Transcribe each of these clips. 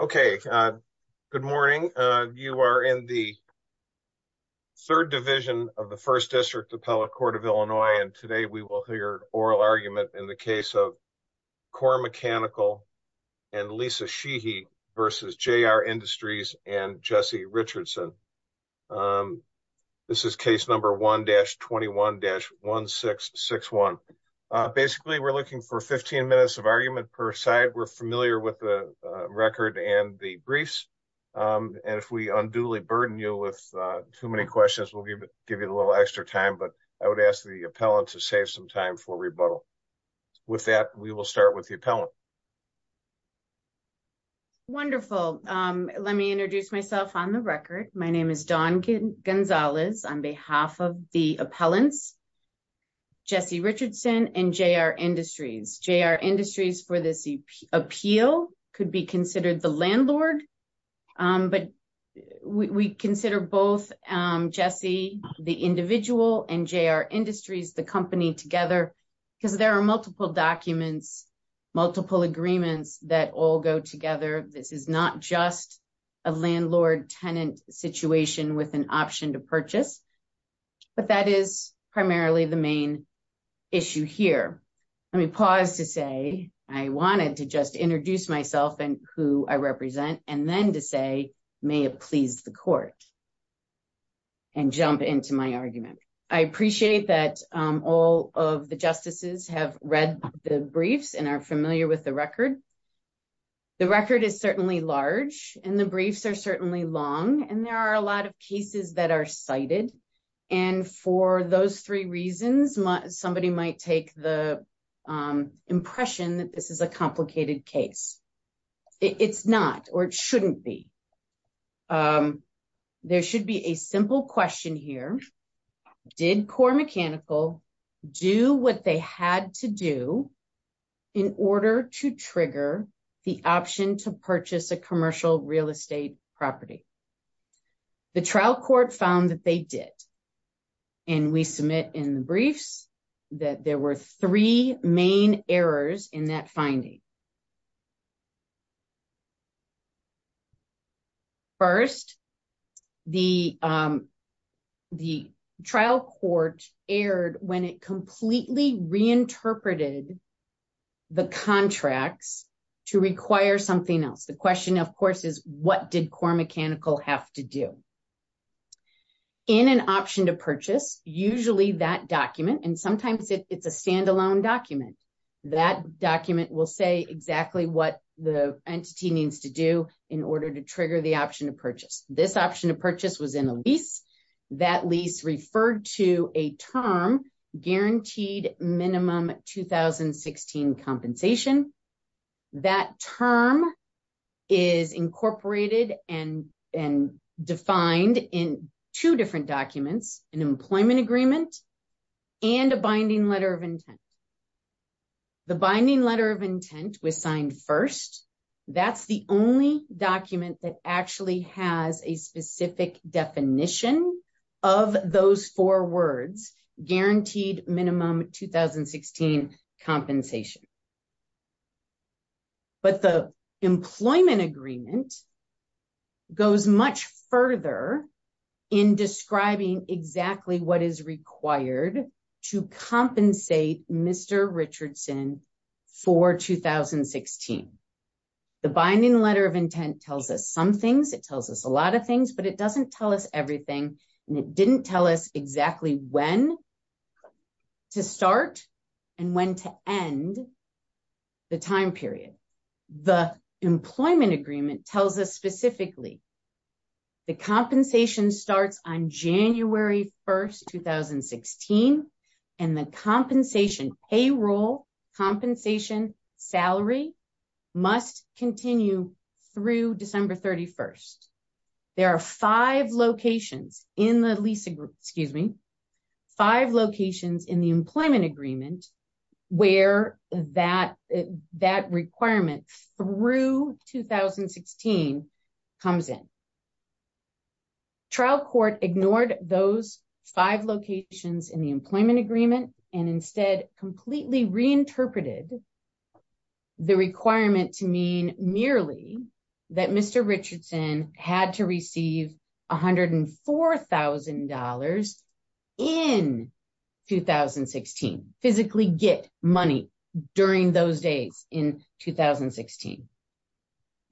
Okay, good morning. You are in the third division of the First District Appellate Court of Illinois and today we will hear oral argument in the case of CORE Mechanical and Lisa Sheehy v. JR Industries and Jesse Richardson. This is case number 1-21-1661. Basically, we're looking for 15 minutes of argument per side. We're familiar with the record and the briefs and if we unduly burden you with too many questions, we'll give you a little extra time, but I would ask the appellant to save some time for rebuttal. With that, we will start with the appellant. Wonderful. Let me introduce myself on the record. My name is Dawn Gonzalez on behalf of the appellants, Jesse Richardson and JR Industries. JR Industries for this appeal could be considered the landlord, but we consider both Jesse, the individual, and JR Industries, the company, together because there are multiple documents, multiple agreements that all go together. This is not just a landlord-tenant situation with an purchase, but that is primarily the main issue here. Let me pause to say I wanted to just introduce myself and who I represent and then to say may it please the court and jump into my argument. I appreciate that all of the justices have read the briefs and are familiar with the record. The record is certainly large and the briefs are certainly long and there are a lot cases that are cited. For those three reasons, somebody might take the impression that this is a complicated case. It's not or it shouldn't be. There should be a simple question here. Did Core Mechanical do what they had to do in order to trigger the option to purchase a commercial real estate property? The trial court found that they did and we submit in the briefs that there were three main errors in that finding. First, the trial court erred when it completely reinterpreted the contracts to require something else. The question, of course, is what did Core Mechanical have to do? In an option to purchase, usually that document, and sometimes it's a standalone document, that document will say exactly what the entity needs to do in order to trigger the option to purchase. This option to purchase was in a lease. That lease referred to a term guaranteed minimum 2016 compensation. That term is incorporated and defined in two different documents, an employment agreement and a binding letter of intent. The binding letter of intent was signed first. That's the only document that actually has a specific definition of those four words, guaranteed minimum 2016 compensation. The employment agreement goes much further in describing exactly what is required to compensate Mr. Richardson for 2016. The binding letter of intent tells us some things. It tells us a lot of things, but it doesn't tell us everything. It didn't tell us exactly when to start and when to end the time period. The employment agreement tells us specifically the compensation starts on January 1st, 2016, and the compensation payroll, compensation salary must continue through December 31st. There are five locations in the employment agreement where that requirement through 2016 comes in. Trial court ignored those five locations in the employment agreement and completely reinterpreted the requirement to mean merely that Mr. Richardson had to receive $104,000 in 2016, physically get money during those days in 2016.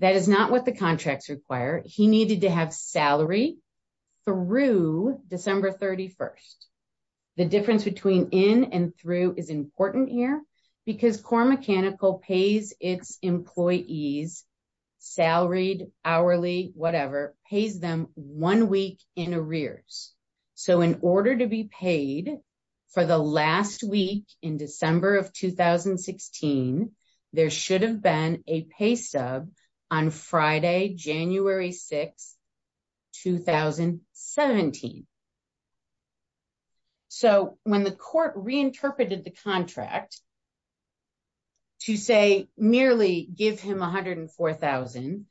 That is not what the contracts require. He needed to have salary through December 31st. The difference between in and through is important here because CORE Mechanical pays its employees, salaried, hourly, whatever, pays them one week in arrears. In order to be paid for the last week in December of 2016, there should have been a pay stub on Friday, January 6th, 2017. So when the court reinterpreted the contract to say merely give him $104,000,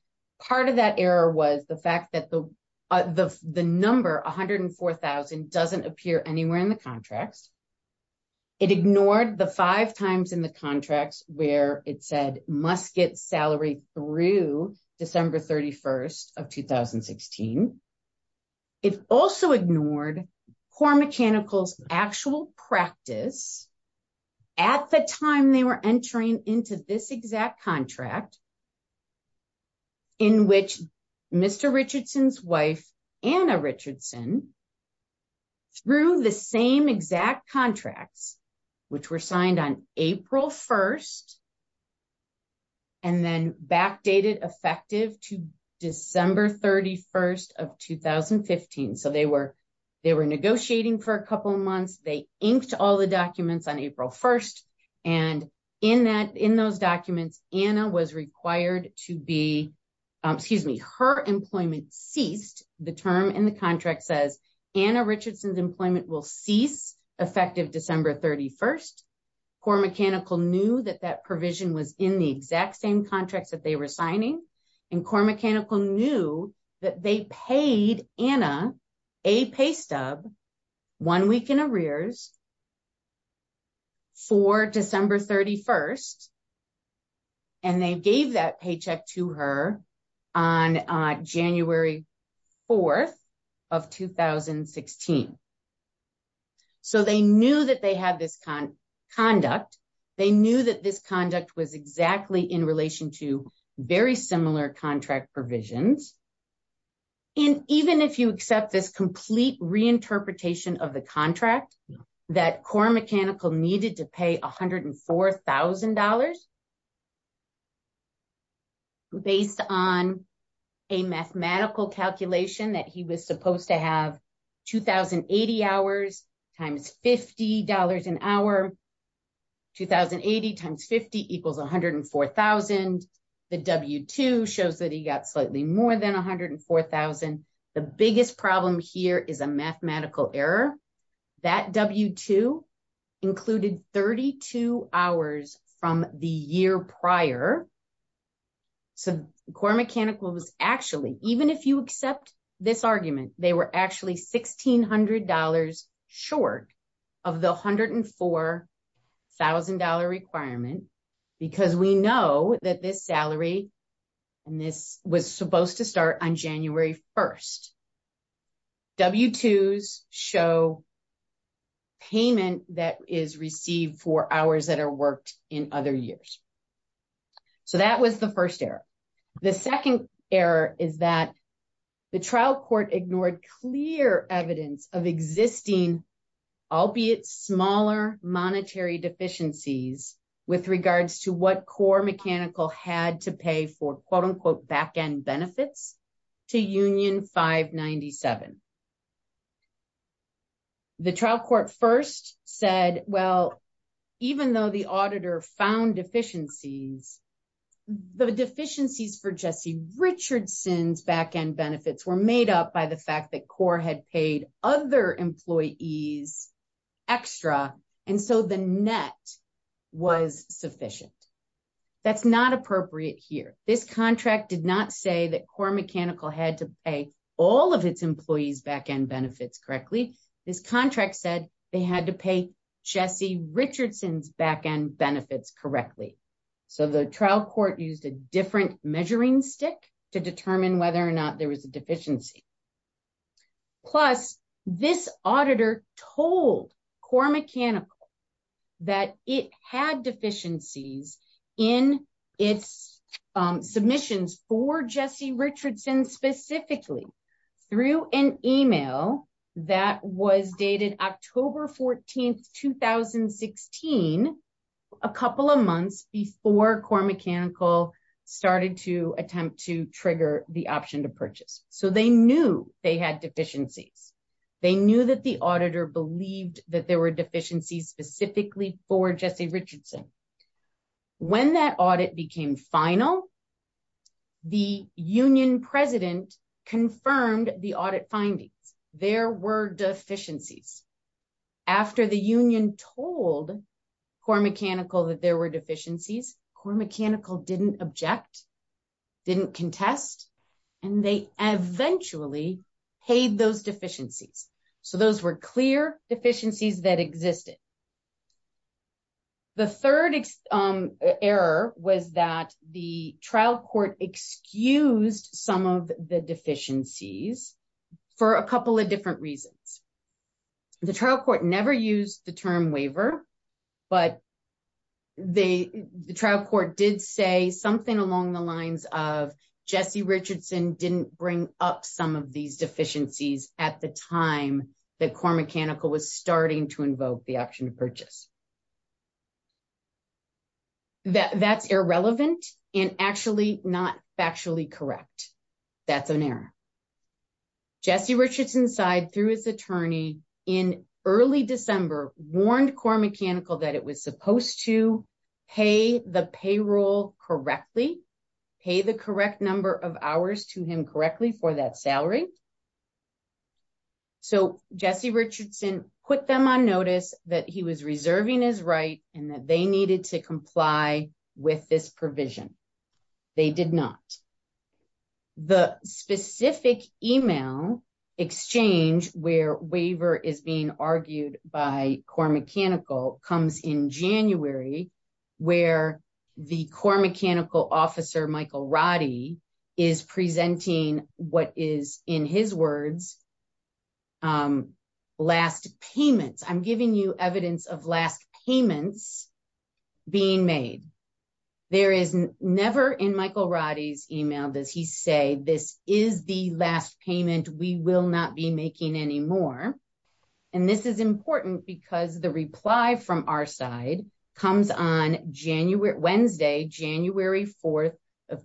part of that error was the fact that the number $104,000 doesn't appear anywhere in the contracts. It ignored the five times in the contracts where it said must get salary through December 31st of 2016. It also ignored CORE Mechanical's actual practice at the time they were entering into this exact contract in which Mr. Richardson's wife, Anna Richardson, through the same exact contracts, which were signed on April 1st and then backdated effective to December 31st of 2015. So they were negotiating for a couple of months. They inked all the documents on April 1st. And in those documents, Anna was required to be, excuse me, her employment ceased. The term in the contract says Anna Richardson's employment will cease effective December 31st. CORE Mechanical knew that that provision was in the exact same contracts that they were signing. And CORE Mechanical knew that they paid Anna a pay stub one week in arrears for December 31st. And they gave that paycheck to her on January 4th of 2016. So they knew that they had this conduct. They knew that this conduct was exactly in relation to very similar contract provisions. And even if you accept this complete reinterpretation of the contract that CORE Mechanical needed to pay $104,000 based on a mathematical calculation that he was supposed to have 2,080 hours times $50 an hour, 2,080 times 50 equals 104,000. The W-2 shows that he got slightly more than 104,000. The biggest problem here is a mathematical error. That W-2 included 32 hours from the year prior. So CORE Mechanical was actually, even if you accept this argument, they were actually $1,600 short of the $104,000 requirement, because we know that this salary, and this was supposed to start on January 1st. W-2s show payment that is received for hours that are worked in other years. So that was the first error. The second error is that the trial court ignored clear evidence of existing, albeit smaller, monetary deficiencies with regards to what CORE Mechanical had to pay for quote-unquote back-end benefits to Union 597. The trial court first said, well, even though the auditor found deficiencies, the deficiencies for Jesse Richardson's back-end benefits were made up by the fact that CORE had paid other employees extra, and so the net was sufficient. That's not appropriate here. This contract did not say that CORE Mechanical had to pay all of its employees back-end benefits correctly. This contract said they had to pay Jesse Richardson's back-end benefits correctly. So the trial court used a different measuring stick to determine whether or not there was a deficiency. Plus, this auditor told CORE Mechanical that it had deficiencies in its submissions for Jesse Richardson specifically through an email that was dated October 14th, 2016, a couple of months before CORE Mechanical started to attempt to trigger the option to purchase. So they knew they had deficiencies. They knew that the auditor believed that there were deficiencies specifically for Jesse Richardson. When that audit became final, the union president confirmed the audit findings. There were deficiencies. After the union told CORE Mechanical that there were deficiencies, CORE Mechanical didn't object, didn't contest, and they eventually paid those deficiencies. So those were clear deficiencies that existed. The third error was that the trial court excused some of the deficiencies for a couple of different reasons. The trial court never used the term waiver, but the trial court did say something along the lines of Jesse Richardson didn't bring up some of these deficiencies. That's irrelevant and actually not factually correct. That's an error. Jesse Richardson's side through his attorney in early December warned CORE Mechanical that it was supposed to pay the payroll correctly, pay the correct number of hours to him correctly for that he was reserving his right and that they needed to comply with this provision. They did not. The specific email exchange where waiver is being argued by CORE Mechanical comes in January, where the CORE Mechanical officer, Michael Roddy, is presenting what is in his words last payments. I'm giving you evidence of last payments being made. There is never in Michael Roddy's email does he say this is the last payment we will not be making anymore. And this is important because the reply from our side comes on January, Wednesday, January 4th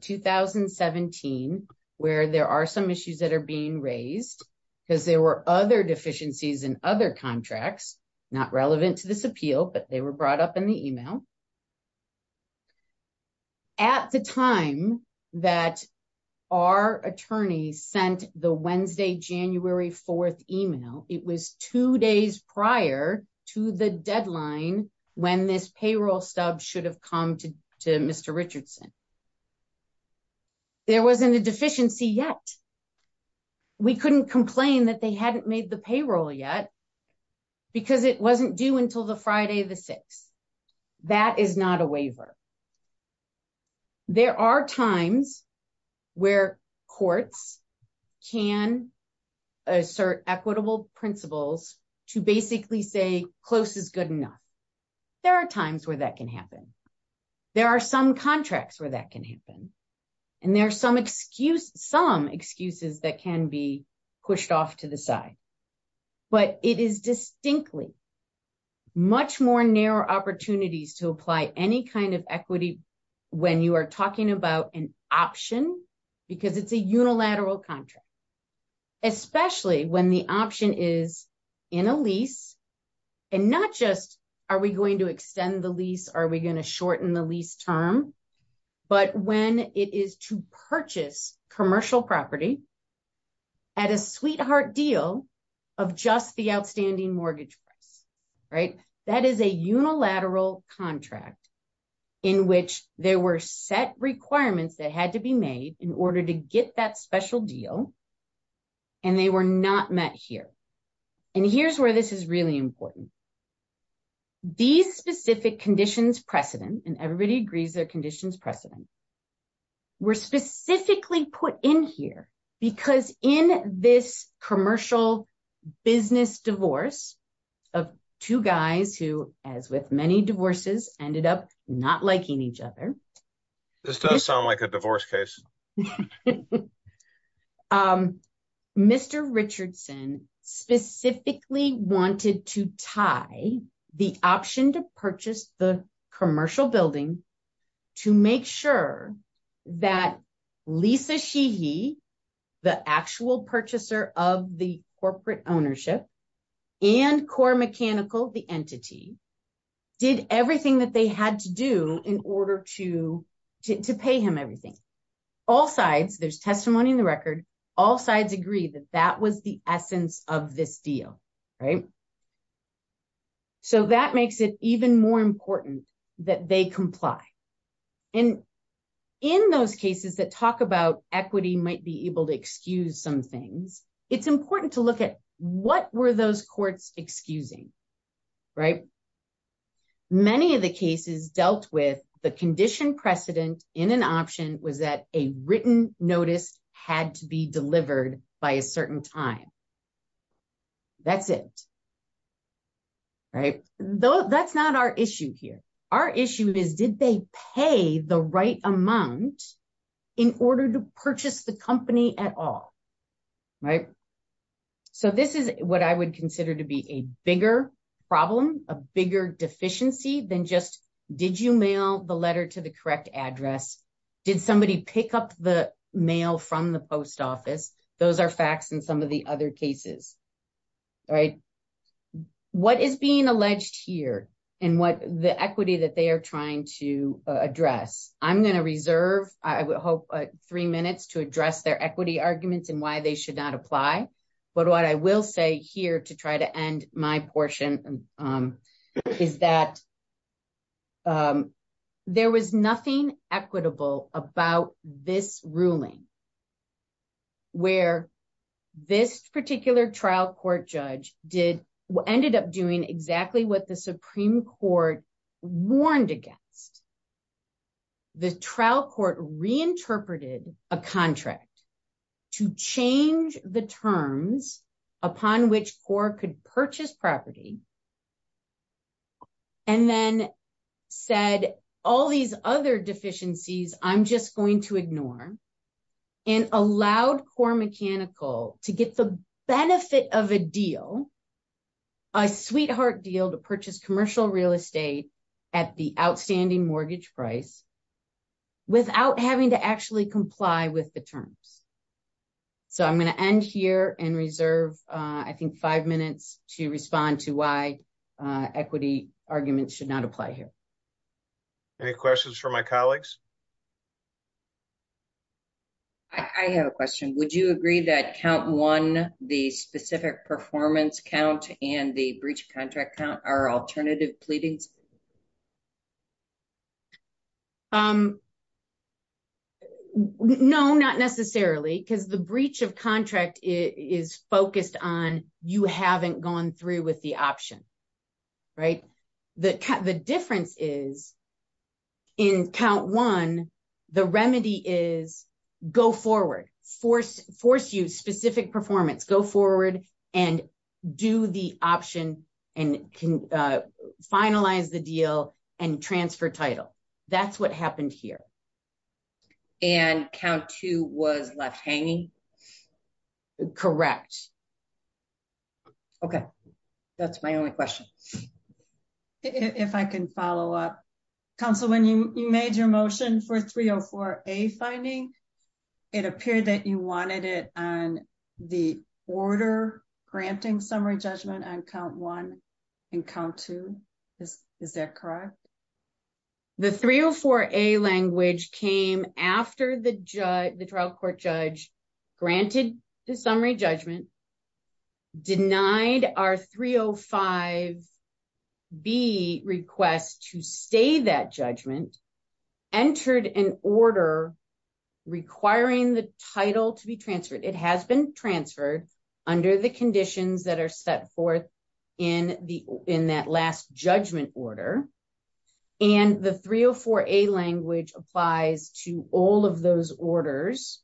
2017, where there are some issues that are being raised because there were other deficiencies in other contracts, not relevant to this appeal, but they were brought up in the email. At the time that our attorney sent the Wednesday, January 4th email, it was two days prior to the there wasn't a deficiency yet. We couldn't complain that they hadn't made the payroll yet because it wasn't due until the Friday the 6th. That is not a waiver. There are times where courts can assert equitable principles to basically say close is good enough. There are times where that can happen. There are some contracts where that can happen. And there are some excuses that can be pushed off to the side, but it is distinctly much more narrow opportunities to apply any kind of equity when you are talking about an option because it's a unilateral contract, especially when the option is in a lease and not just are we going to extend the lease? Are we going to shorten the lease term? But when it is to purchase commercial property at a sweetheart deal of just the outstanding mortgage price, that is a unilateral contract in which there were set requirements that had to be made in order to get that special deal and they were not met here. And here's where this is really important. These specific conditions precedent, and everybody agrees their conditions precedent, were specifically put in here because in this commercial business divorce of two guys who, as with many divorces, ended up not liking each other. This does sound like a divorce case. Mr. Richardson specifically wanted to tie the option to purchase the commercial building to make sure that Lisa Sheehy, the actual purchaser of the corporate ownership, and Core Mechanical, the entity, did everything that they had to do in order to pay him everything. All sides, there's testimony in the record, all sides agree that that was the essence of this deal, right? So that makes it even more important that they comply. And in those cases that talk about equity might be able to excuse some things, it's important to look at what were those courts excusing, right? Many of the cases dealt with the condition precedent in an option was that a written notice had to be delivered by a certain time. That's it, right? That's not our issue here. Our issue is did they pay the right amount in order to purchase the company at all, right? So this is what I would consider to be a bigger problem, a bigger deficiency than just did you mail the letter to the correct address? Did somebody pick up the mail from the post office? Those are facts in some of the other cases, right? What is being alleged here and what the equity that they are trying to address? I'm going to reserve, I would hope, three minutes to address their equity arguments and why they should not apply. But what I will say here to try to end my portion is that there was nothing equitable about this ruling where this particular trial court judge did, ended up doing exactly what the Supreme Court warned against. The trial court reinterpreted a contract to change the terms upon which CORE could purchase property and then said all these other deficiencies I'm just going to ignore and allowed CORE Mechanical to get the benefit of a deal, a sweetheart deal to purchase commercial real estate at the outstanding mortgage price without having to actually comply with the terms. So I'm going to end here and reserve I think five minutes to respond to why equity arguments should not apply here. Any questions for my colleagues? I have a question. Would you agree that count one, the specific performance count and the breach of contract? No, not necessarily because the breach of contract is focused on you haven't gone through with the option, right? The difference is in count one, the remedy is go forward, force you specific performance, go forward and do the option and can finalize the deal and transfer title. That's what happened here. And count two was left hanging? Correct. Okay. That's my only question. If I can follow up. Council when you made your motion for 304A finding, it appeared that you wanted it on the order granting summary judgment on count one and count two. Is that correct? The 304A language came after the trial court judge granted the summary judgment, denied our 305B request to stay that judgment, entered an order requiring the title to be transferred. It has been transferred under the conditions that are set forth in that last judgment order. And the 304A language applies to all of those orders.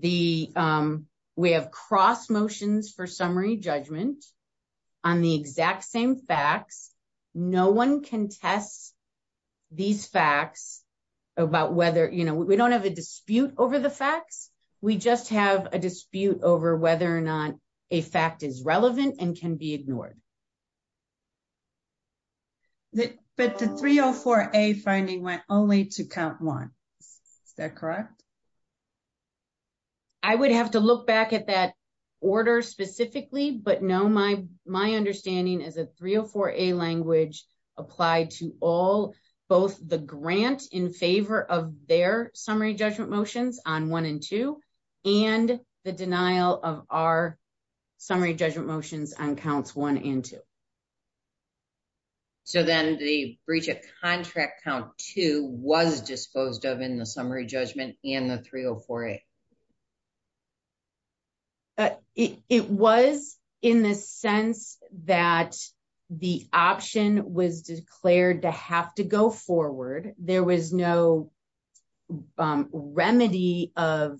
We have cross motions for summary judgment on the exact same facts. No one can test these facts about whether, we don't have a dispute over the facts. We just have a dispute over whether or not a fact is relevant and can be ignored. But the 304A finding went only to count one. Is that correct? I would have to look back at that order specifically, but no, my understanding is that 304A language applied to all, both the grant in favor of their summary judgment motions on one and two, and the denial of our summary judgment motions on counts one and two. So then the breach of contract count two was disposed of in the summary judgment in the 304A? It was in the sense that the option was declared to have to go forward. There was no remedy of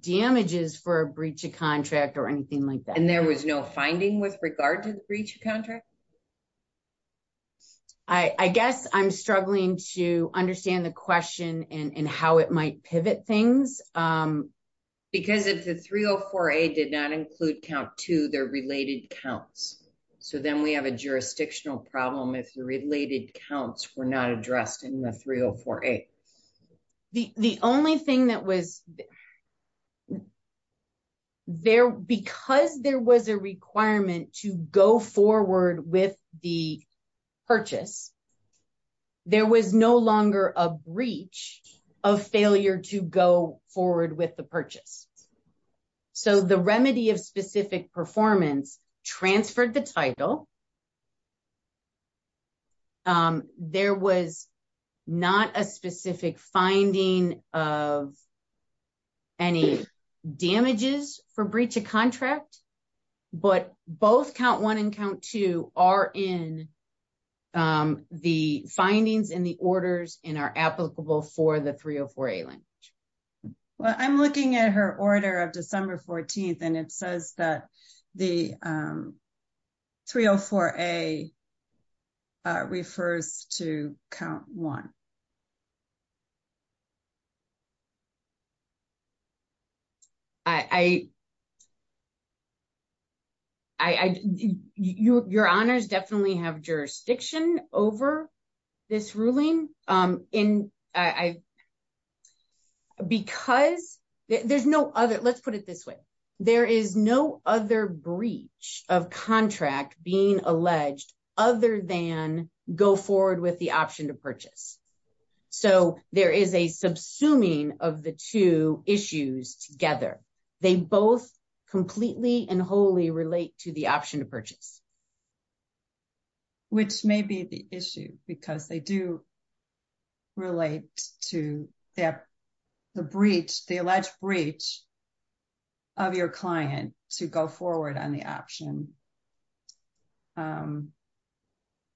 damages for a breach of contract or anything like that. And there was no finding with regard to the breach of contract? I guess I'm struggling to understand the question and how it might pivot things. Because if the 304A did not include count two, they're related counts. So then we have a jurisdictional problem if the related counts were not addressed in the 304A. The only thing that was there, because there was a requirement to go forward with the purchase, there was no longer a breach of failure to go forward with the purchase. So the remedy of specific performance transferred the title. So there was not a specific finding of any damages for breach of contract. But both count one and count two are in the findings in the orders and are applicable for the 304A language. Well, I'm looking at her order of December 14th, and it says that the 304A refers to count one. Your honors definitely have jurisdiction over this ruling. And because there's no other, let's put it this way. There is no other breach of contract being alleged other than go forward with the option to purchase. So there is a subsuming of the two issues together. They both completely and wholly relate to the option to purchase. Which may be the issue, because they do relate to the breach, the alleged breach of your client to go forward on the option.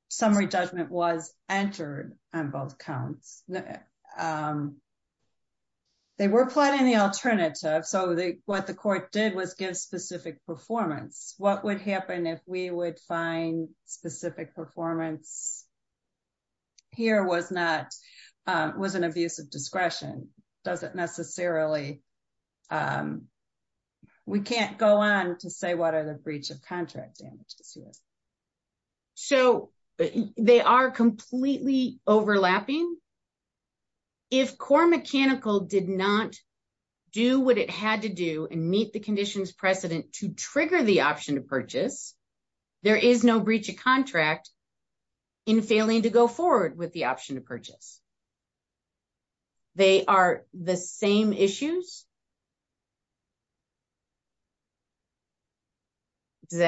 Summary judgment was entered on both counts. They were plotting the alternative. So what the court did was give specific performance. What would happen if we would find specific performance? Here was not, was an abuse of discretion. Doesn't necessarily. We can't go on to say what are the breach of contract damages. So they are completely overlapping. If core mechanical did not do what it had to do and meet the conditions precedent to trigger the option to purchase. There is no breach of contract. In failing to go forward with the option to purchase. They are the same issues. Does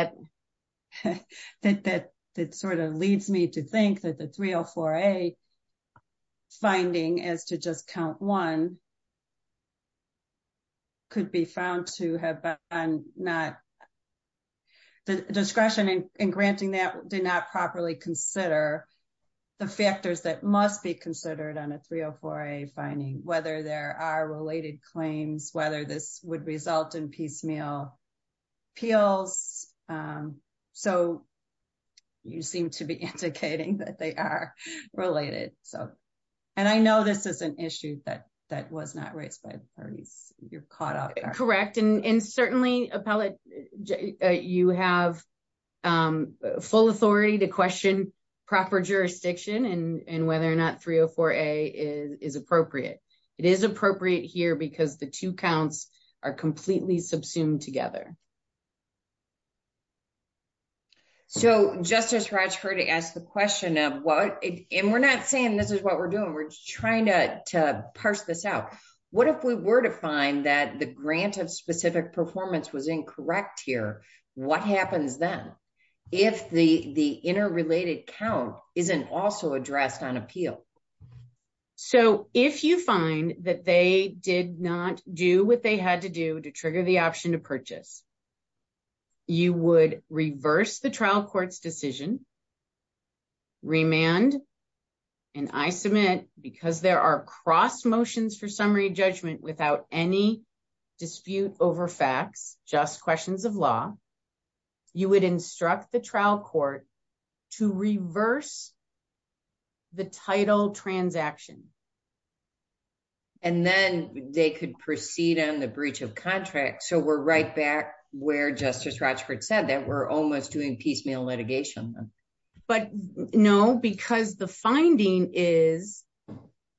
that that sort of leads me to think that the 304A finding as to just count one. Could be found to have been not. The discretion in granting that did not properly consider. The factors that must be considered on a 304A finding, whether there are related claims, whether this would result in piecemeal appeals. So, you seem to be indicating that they are related. And I know this is an issue that that was not raised by the parties. You're caught up, correct? And certainly appellate, you have. Full authority to question proper jurisdiction and whether or not 304A is appropriate. It is appropriate here because the two counts are completely subsumed together. So, just as much for to ask the question of what and we're not saying this is what we're doing. We're trying to parse this out. What if we were to find that the grant of specific performance was incorrect here? What happens then if the interrelated count isn't also addressed on appeal? So, if you find that they did not do what they had to do to trigger the option to purchase. You would reverse the trial court's decision. Remand and I submit because there are cross motions for summary judgment without any dispute over facts, just questions of law. You would instruct the trial court to reverse the title transaction. And then they could proceed on the breach of contract. So, we're right back where Justice Rochford said that we're almost doing piecemeal litigation. But no, because the finding is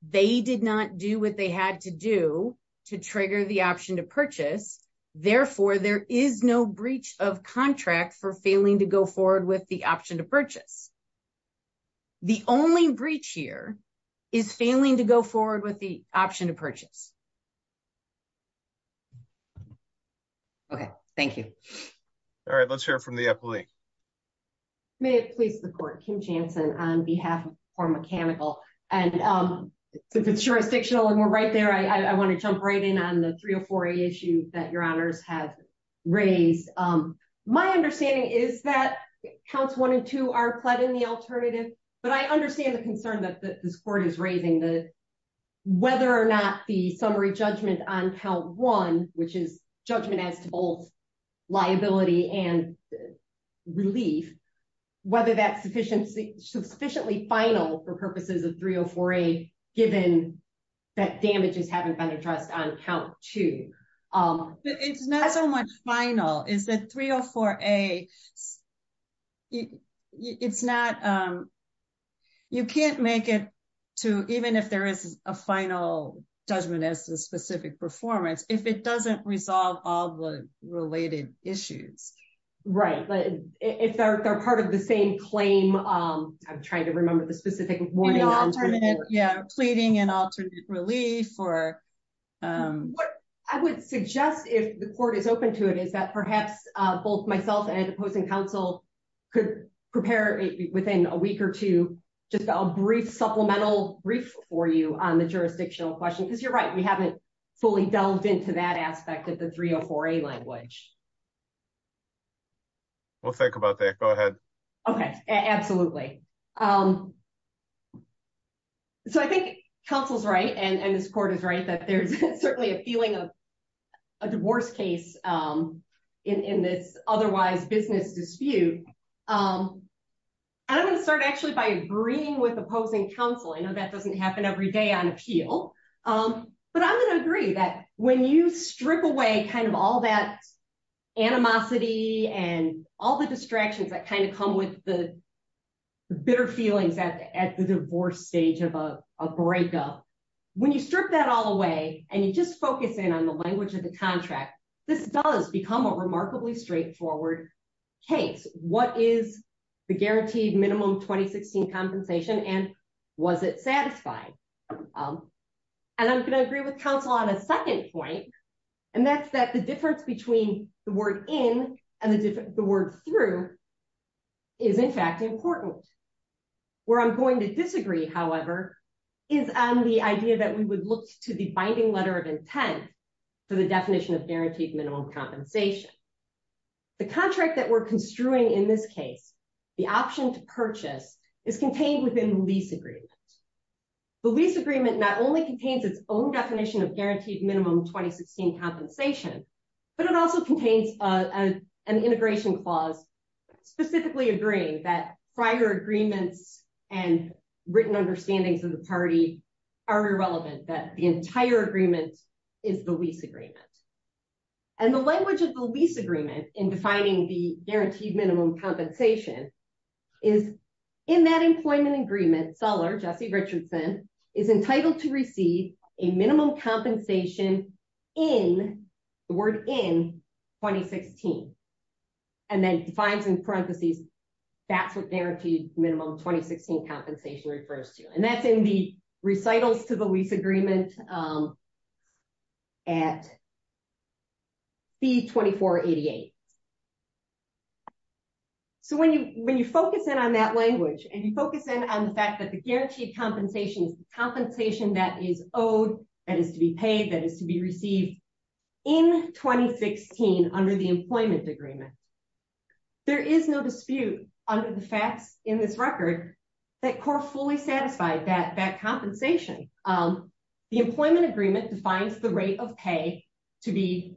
they did not do what they had to do to trigger the option to purchase. Therefore, there is no breach of contract for failing to go forward with the option to purchase. The only breach here is failing to go forward with the option to purchase. Okay, thank you. All right, let's hear from the appellee. May it please the court. Kim Jansen on behalf for mechanical. And if it's jurisdictional and we're right there, I want to jump right in on the 304a issue that your honors have raised. My understanding is that counts one and two are pled in the alternative, but I understand the concern that this court is raising that whether or not the summary judgment on count one, which is judgment as to both liability and relief, whether that's sufficiently final for purposes of 304a given that damages haven't been addressed on count two. It's not so much final, is that 304a, it's not, you can't make it to even if there is a final judgment as to specific performance, if it doesn't resolve all the related issues. Right. But if they're part of the same claim, I'm trying to remember the specific. Yeah. Pleading and alternate relief or. I would suggest if the court is open to it, is that perhaps both myself and opposing counsel could prepare within a week or two, just a brief supplemental brief for you on the jurisdictional question, because you're right. We haven't fully delved into that aspect of the 304a language. We'll think about that. Go ahead. Okay, absolutely. So I think counsel's right. And this court is right that there's certainly a feeling of a divorce case in this otherwise business dispute. And I'm going to start actually by agreeing with opposing counsel. I know that doesn't happen every day on appeal. But I'm going to agree that when you strip away kind of all that animosity and all the distractions that kind of come with the bitter feelings at the divorce stage of a breakup, when you strip that all away and you just focus in on the language of the contract, this does become a remarkably straightforward case. What is the guaranteed minimum 2016 compensation? And was it satisfying? And I'm going to agree with counsel on a second point, and that's that the difference between the word in and the word through is, in fact, important. Where I'm going to disagree, however, is on the idea that we would look to the binding letter of intent for the definition of guaranteed minimum compensation. The contract that we're construing in this case, the option to purchase, is contained within the lease agreement. The lease agreement not only contains its own definition of guaranteed minimum 2016 compensation, but it also contains an integration clause specifically agreeing that prior agreements and written understandings of the party are irrelevant, that the entire agreement is the lease agreement. And the language of the lease agreement in defining the guaranteed minimum compensation is, in that employment agreement, seller Jesse Richardson is entitled to receive a minimum compensation in the word in 2016, and then defines in parentheses, that's what guaranteed minimum 2016 compensation refers to. And that's in the recitals to the lease agreement at B2488. So when you focus in on that language and you focus in on the fact that the guaranteed compensation is the compensation that is owed, that is to be paid, that is to be received in 2016 under the employment agreement, there is no dispute under the facts in this record that CORE fully satisfied that compensation. The employment agreement defines the rate of pay to be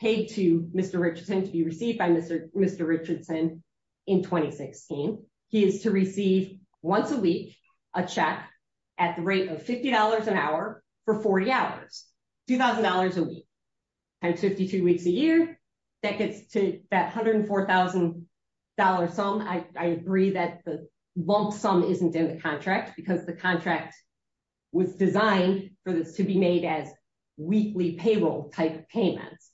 paid to Mr. Richardson, to be received by Mr. Richardson in 2016. He is to receive once a week a check at the rate of $50 an hour for 40 hours, $2,000 a week, times 52 weeks a year, that gets to that $104,000 sum. I agree that the lump sum isn't in the contract because the contract was designed for this to be made as weekly payroll type of payments.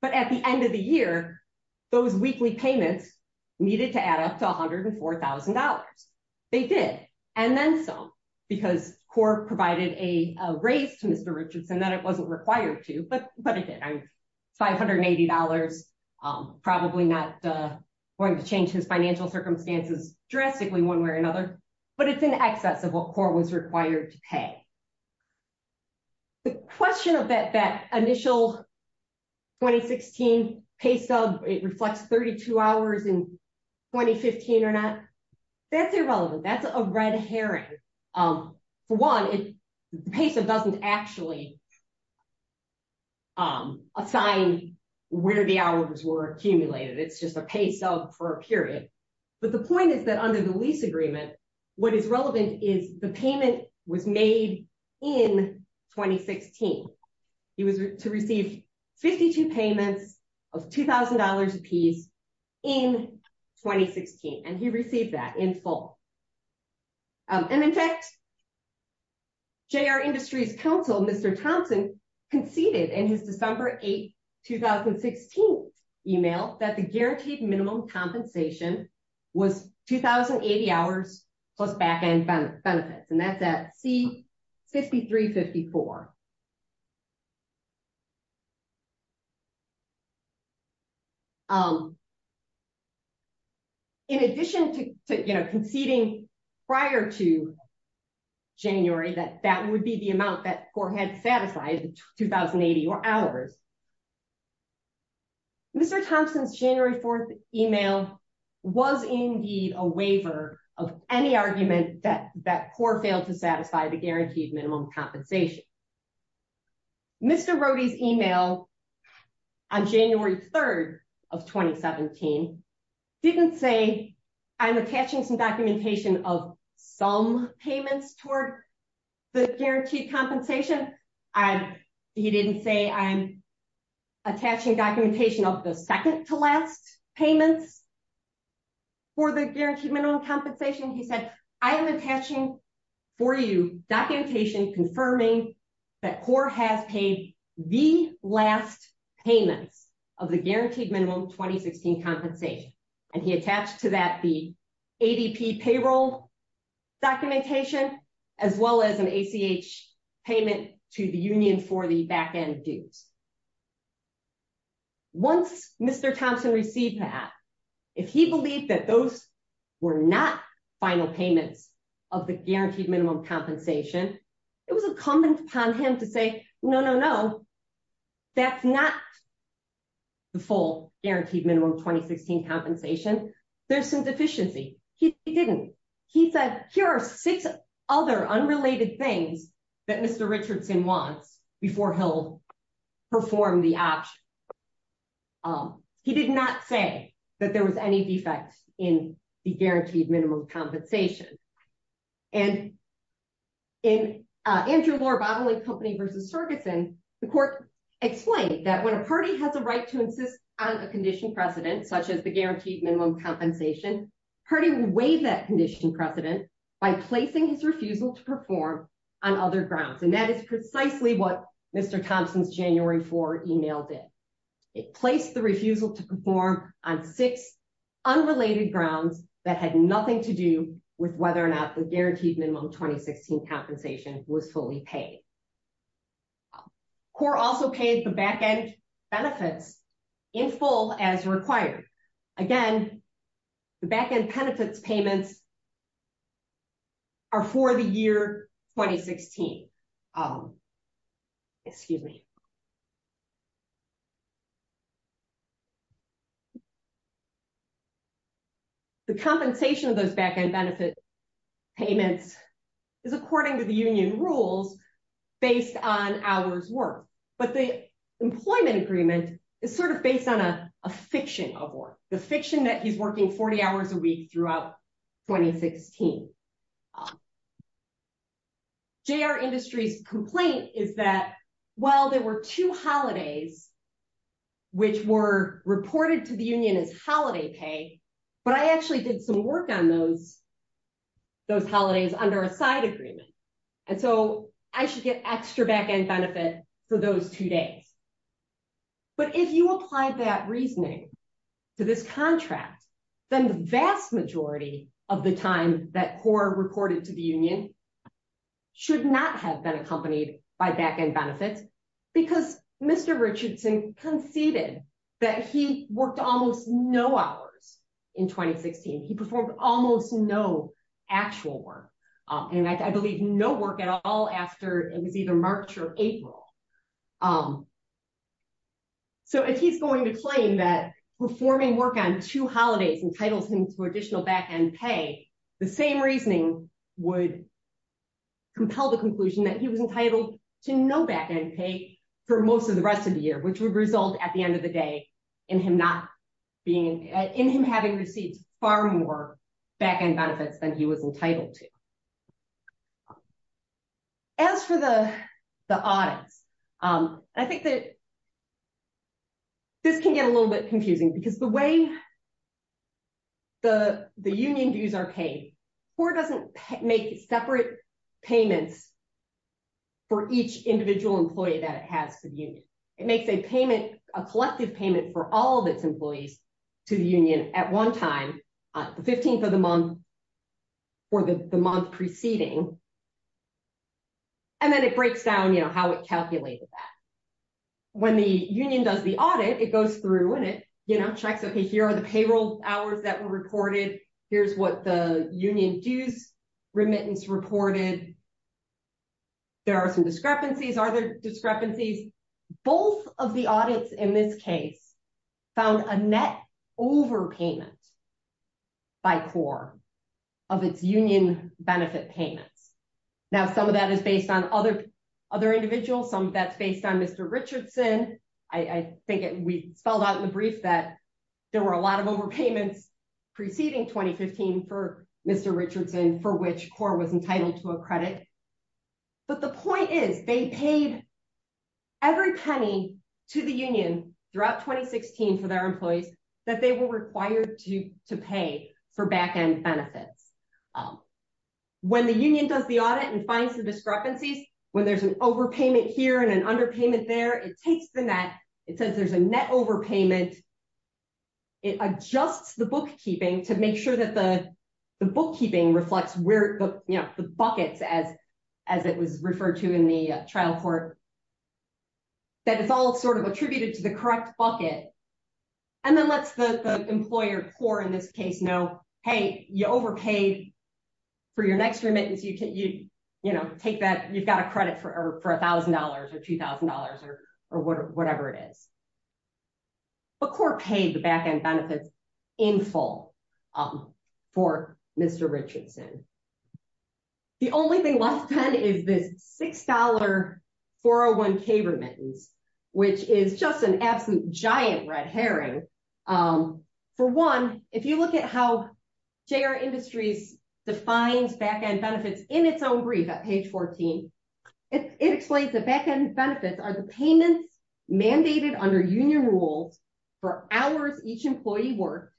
But at the end of the year, those weekly payments needed to add up to $104,000. They did, and then some, because CORE provided a raise to Mr. Richardson that it wasn't required to, but it did. $580, probably not going to change his financial circumstances drastically one way or another, but it's in excess of what CORE was required to pay. The question of that initial 2016 pay sub, it reflects 32 hours in 2015 or not, that's irrelevant. That's a red herring. For one, the pay sub doesn't actually assign where the hours were accumulated. It's just a pay sub for a period. But the point is that under the lease agreement, what is relevant is the payment was made in 2016. He was to receive 52 payments of $2,000 apiece in 2016, and he received that in full. And in fact, JR Industries Council, Mr. Thompson conceded in his December 8, 2016 email that the guaranteed minimum compensation was 2,080 hours plus back-end benefits. And that's at C-5354. In addition to conceding prior to January that that would be the amount that CORE had satisfied, 2,080 hours, Mr. Thompson's January 4 email was indeed a waiver of any argument that CORE failed to satisfy the guaranteed minimum compensation. Mr. Rohde's email on January 3 of 2017 didn't say, I'm attaching some documentation of some payments toward the guaranteed compensation. He didn't say, I'm attaching documentation of the second-to-last payments for the guaranteed minimum compensation. He said, I am attaching for you documentation confirming that CORE has paid the last payments of the guaranteed minimum 2016 compensation. And he attached to that the ADP payroll documentation, as well as an ACH payment to the union for the back-end dues. Once Mr. Thompson received that, if he believed that those were not final payments of the guaranteed minimum compensation, it was incumbent upon him to say, no, no, no, that's not the full guaranteed minimum 2016 compensation. There's some deficiency. He didn't. He said, here are six other unrelated things that Mr. Thompson will perform the option. He did not say that there was any defects in the guaranteed minimum compensation. And in Andrew Lohr-Bottling Company v. Sergeson, the court explained that when a party has a right to insist on a condition precedent, such as the guaranteed minimum compensation, party will waive that condition precedent by placing his refusal to perform on other grounds. And that is precisely what Mr. Thompson's January 4 email did. It placed the refusal to perform on six unrelated grounds that had nothing to do with whether or not the guaranteed minimum 2016 compensation was fully paid. CORE also paid the back-end benefits in full as required. Again, the back-end benefits payments are for the year 2016. Oh, excuse me. The compensation of those back-end benefit payments is according to the union rules based on hours worth. But the employment agreement is sort of based on a fiction of work, the fiction that he's working 40 hours a week throughout 2016. J.R. Industries' complaint is that while there were two holidays which were reported to the union as holiday pay, but I actually did some work on those holidays under a side agreement. And so I should get extra back-end benefit for those two days. But if you applied that reasoning to this contract, then the vast majority of the time that CORE reported to the union should not have been accompanied by back-end benefits because Mr. Richardson conceded that he worked almost no hours in 2016. He performed almost no actual work. And I believe no work at all after it was either March or April. So if he's going to claim that performing work on two holidays entitles him to additional back-end pay, the same reasoning would compel the conclusion that he was entitled to no back-end pay for most of the rest of the year, which would result at the end of the day in him having received far more back-end benefits than he was entitled to. As for the audits, I think that this can get a little bit confusing because the way that the union dues are paid, CORE doesn't make separate payments for each individual employee that it has to the union. It makes a collective payment for all of its employees to the union at one time, the 15th of the month or the month preceding, and then it breaks down how it calculated that. When the union does the audit, it goes through and it checks, okay, here are the payroll hours that were reported. Here's what the union dues remittance reported. There are some discrepancies. Are there discrepancies? Both of the audits in this case found a net overpayment by CORE of its union benefit payments. Now, some of that is based on other individuals. Some of that's based on Mr. Richardson. I think we spelled out in the brief that there were a lot of overpayments preceding 2015 for Mr. Richardson for which CORE was entitled to a credit. But the point is they paid every penny to the union throughout 2016 for their employees that they were required to pay for back-end benefits. When the union does the audit and finds the discrepancies, when there's an overpayment here and an underpayment there, it takes the net. It says there's a net overpayment. It adjusts the bookkeeping to make sure that the bookkeeping reflects where the buckets as it was referred to in the trial court, that it's all sort of attributed to the correct bucket and then lets the employer CORE in this case know, hey, you overpaid for your next remittance. You've got a credit for $1,000 or $2,000 or whatever it is. But CORE paid the back-end benefits in full for Mr. Richardson. The only thing left then is this $6 401k remittance, which is just an absent giant red herring. For one, if you look at how JR Industries defines back-end benefits in its own brief at page 14, it explains the back-end benefits are the payments mandated under union rules for hours each employee worked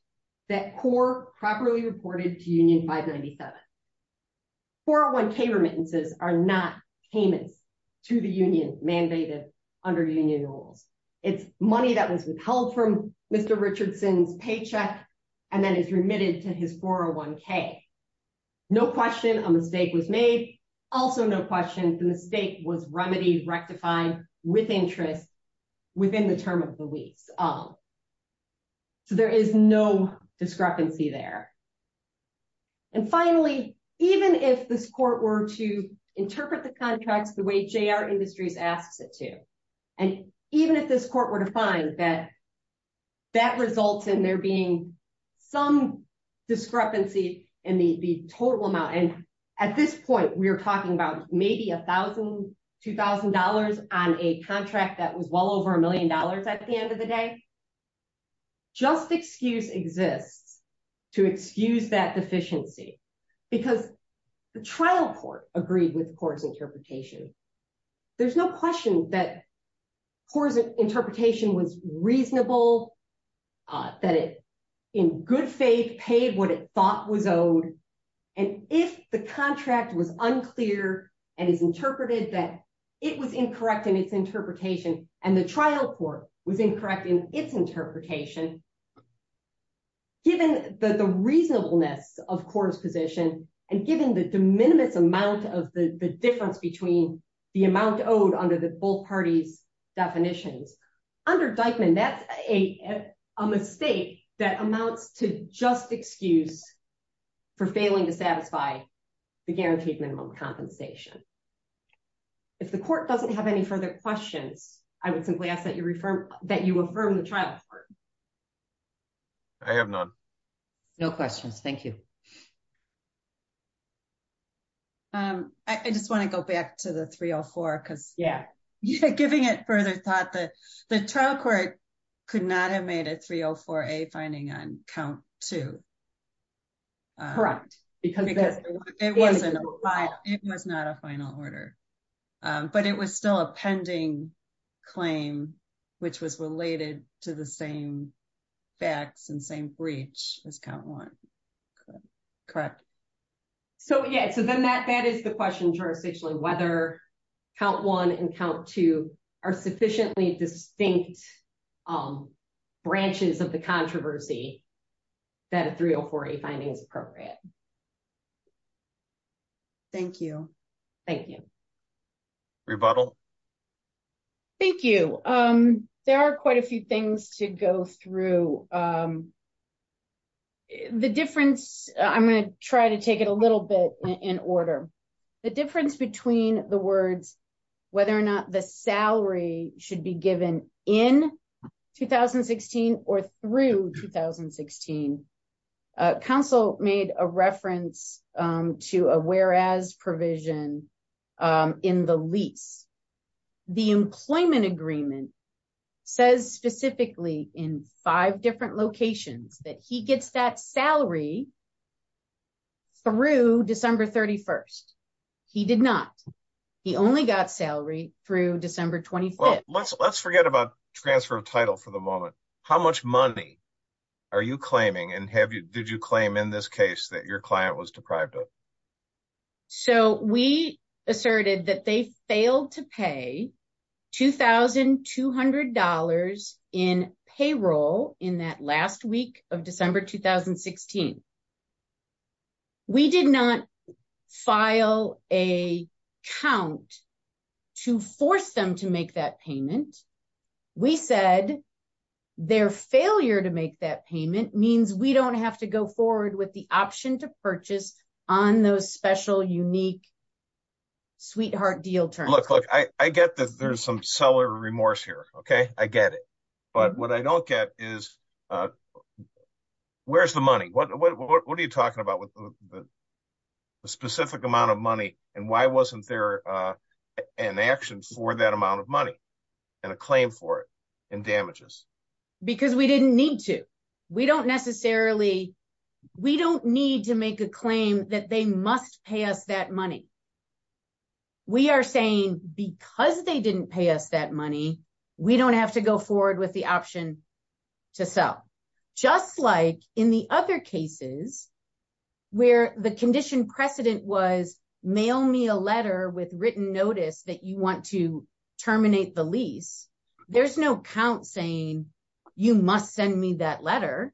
that CORE properly reported to union 597. 401k remittances are not payments to the union mandated under union rules. It's money that was withheld from Mr. Richardson's paycheck and then is remitted to his 401k. No question a mistake was made. Also no question the mistake was remedied, rectified with interest within the term of the lease. So there is no discrepancy there. And finally, even if this court were to interpret the contracts the way JR Industries asks it to, and even if this court were to find that that results in there being some discrepancy in the total amount. And at this point, we are talking about maybe $1,000, $2,000 on a contract that was well over a million dollars at the end of the day. I think just excuse exists to excuse that deficiency because the trial court agreed with CORE's interpretation. There's no question that CORE's interpretation was reasonable, that it in good faith paid what it thought was owed. And if the contract was unclear and is interpreted that it was incorrect in its interpretation and the trial court was incorrect in its interpretation, given the reasonableness of CORE's position and given the de minimis amount of the difference between the amount owed under the both parties' definitions, under Deichmann, that's a mistake that amounts to just excuse for failing to satisfy the guaranteed minimum compensation. If the court doesn't have any further questions, I would simply ask that you affirm the trial court. I have none. No questions. Thank you. I just want to go back to the 304 because giving it further thought, the trial court could not have made a 304A finding on count two. Correct. Because it wasn't a file. It was not a file. It was not a final order, but it was still a pending claim, which was related to the same facts and same breach as count one. Correct. So, yeah, so then that is the question, jurisdictionally, whether count one and count two are sufficiently distinct branches of the controversy that a 304A finding is appropriate. Thank you. Thank you. Rebuttal. Thank you. There are quite a few things to go through. The difference, I'm going to try to take it a little bit in order. The difference between the words whether or not the salary should be given in 2016 or through 2016, counsel made a reference to a whereas provision in the lease. The employment agreement says specifically in five different locations that he gets that salary through December 31st. He did not. He only got salary through December 25th. Let's forget about transfer of title for the moment. How much money are you claiming and did you claim in this case that your client was deprived of? So we asserted that they failed to pay $2,200 in payroll in that last week of December 2016. We did not file a count to force them to make that payment. We said their failure to make that payment means we don't have to go forward with the option to purchase on those special, unique, sweetheart deal terms. Look, look, I get that there's some seller remorse here, okay? I get it. But what I don't get is where's the money? What are you talking about with the specific amount of money and why wasn't there an action for that amount of money and a claim for it and damages? Because we didn't need to. We don't need to make a claim that they must pay us that money. We are saying because they didn't pay us that money, we don't have to go forward with the option to sell. Just like in the other cases where the condition precedent was mail me a letter with written notice that you want to terminate the lease, there's no count saying you must send me that letter.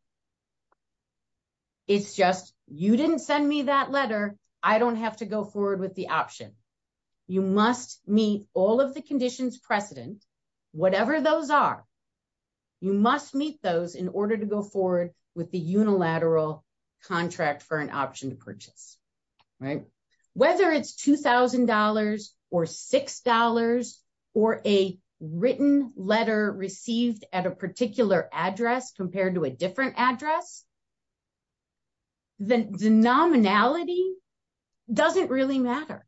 It's just you didn't send me that letter. I don't have to go forward with the option. You must meet all of the conditions precedent, whatever those are. You must meet those in order to go forward with the unilateral contract for an option to purchase, right? Whether it's $2,000 or $6 or a written letter received at a particular address compared to a different address, the nominality doesn't really matter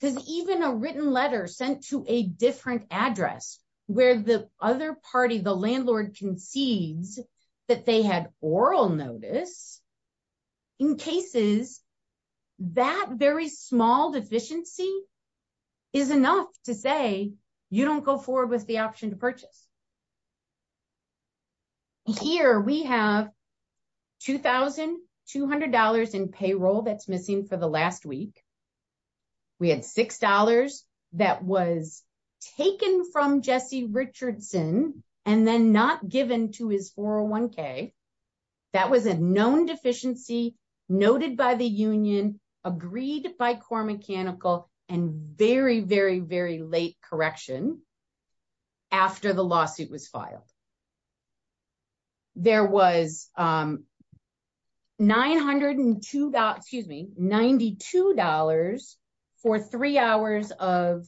because even a written letter sent to a different address where the other party, the landlord concedes that they had oral notice, in cases that very small deficiency is enough to say you don't go forward with the option to purchase. Here we have $2,200 in payroll that's missing for the last week. We had $6 that was taken from Jesse Richardson and then not given to his 401k. That was a known deficiency noted by the union, agreed by core mechanical and very, very, very late correction after the lawsuit was filed. There was $902, excuse me, $92 for three hours of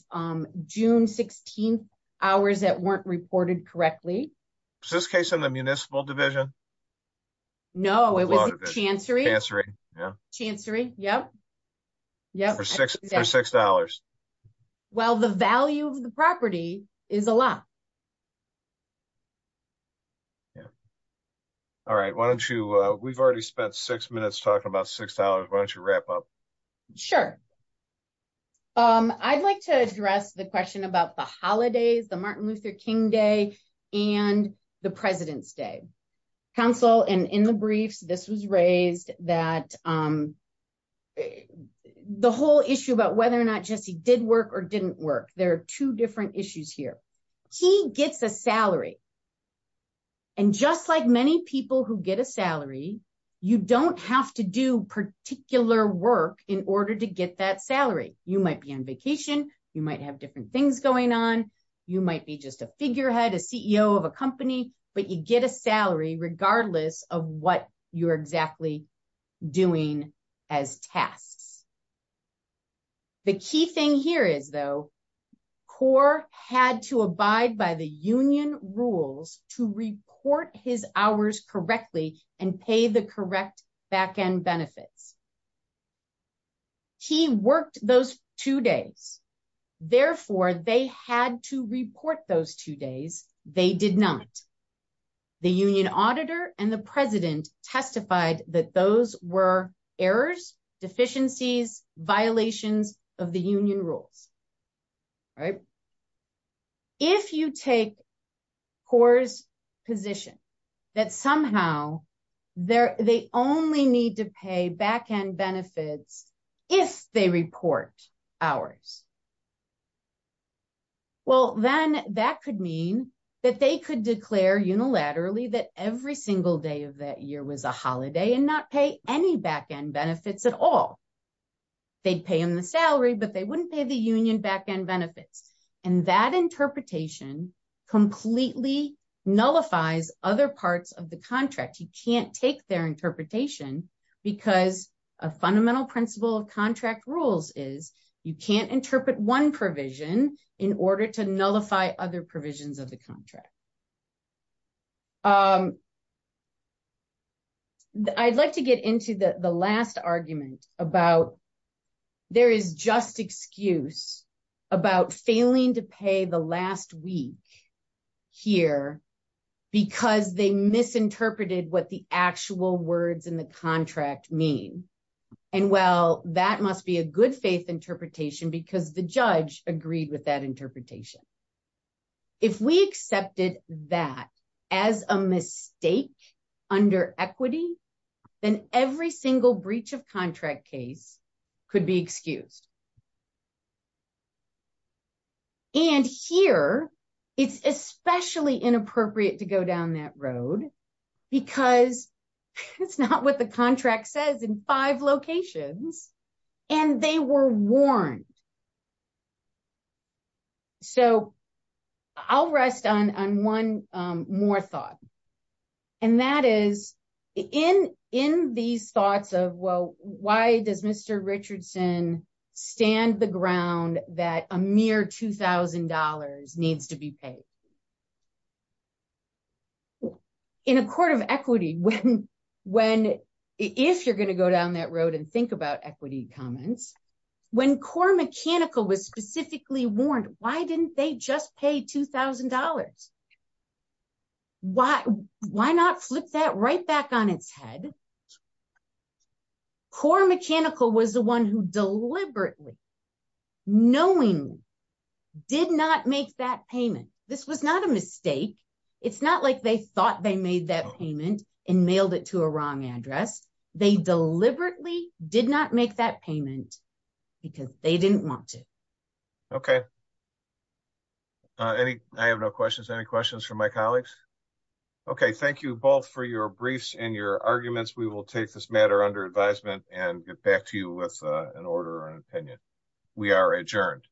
June 16th hours that weren't reported correctly. Is this case in the municipal division? No, it was the chancery. Chancery, yeah. Chancery, yep. For $6. Well, the value of the property is a lot. Yeah. All right, why don't you, we've already spent six minutes talking about $6, why don't you wrap up? Sure. I'd like to address the question about the holidays, the Martin Luther King Day, and the President's Day. Counsel, and in the briefs, this was raised that the whole issue about whether or not Jesse did work or didn't work, there are two different issues here. He gets a salary. And just like many people who get a salary, you don't have to do particular work in order to get that salary. You might be on vacation, you might have different things going on, you might be just a figurehead, a CEO of a company, but you get a salary regardless of what you're exactly doing as tasks. The key thing here is, though, CORE had to abide by the union rules to report his hours correctly and pay the correct back-end benefits. He worked those two days. Therefore, they had to report those two days. They did not. The union auditor and the president testified that those were errors, deficiencies, and violations of the union rules. If you take CORE's position that somehow they only need to pay back-end benefits if they report hours, well, then that could mean that they could declare unilaterally that every single day of that year was a holiday and not pay any back-end benefits at all. They'd pay them the salary, but they wouldn't pay the union back-end benefits. That interpretation completely nullifies other parts of the contract. You can't take their interpretation because a fundamental principle of contract rules is you can't interpret one provision in order to nullify other provisions of the contract. I'd like to get into the last argument about there is just excuse about failing to pay the last week here because they misinterpreted what the actual words in the contract mean. That must be a good-faith interpretation because the judge agreed with that interpretation. If we accepted that as a mistake under equity, then every single breach of contract case could be excused. Here, it's especially inappropriate to go down that road because it's not what the contract says in five locations, and they were warned. I'll rest on one more thought, and that is in these thoughts of why does Mr. Richardson stand the ground that a mere $2,000 needs to be paid? In a court of equity, if you're going to go down that road and think about equity comments, when core mechanical was specifically warned, why didn't they just pay $2,000? Why not flip that right back on its head? Core mechanical was the one who deliberately, knowingly, did not make that payment. This was not a mistake. It's not like they thought they made that payment and mailed it to a wrong address. They deliberately did not make that payment because they didn't want to. Okay, I have no questions. Any questions from my colleagues? Okay, thank you both for your briefs and your arguments. We will take this matter under advisement and get back to you with an order or an opinion. We are adjourned.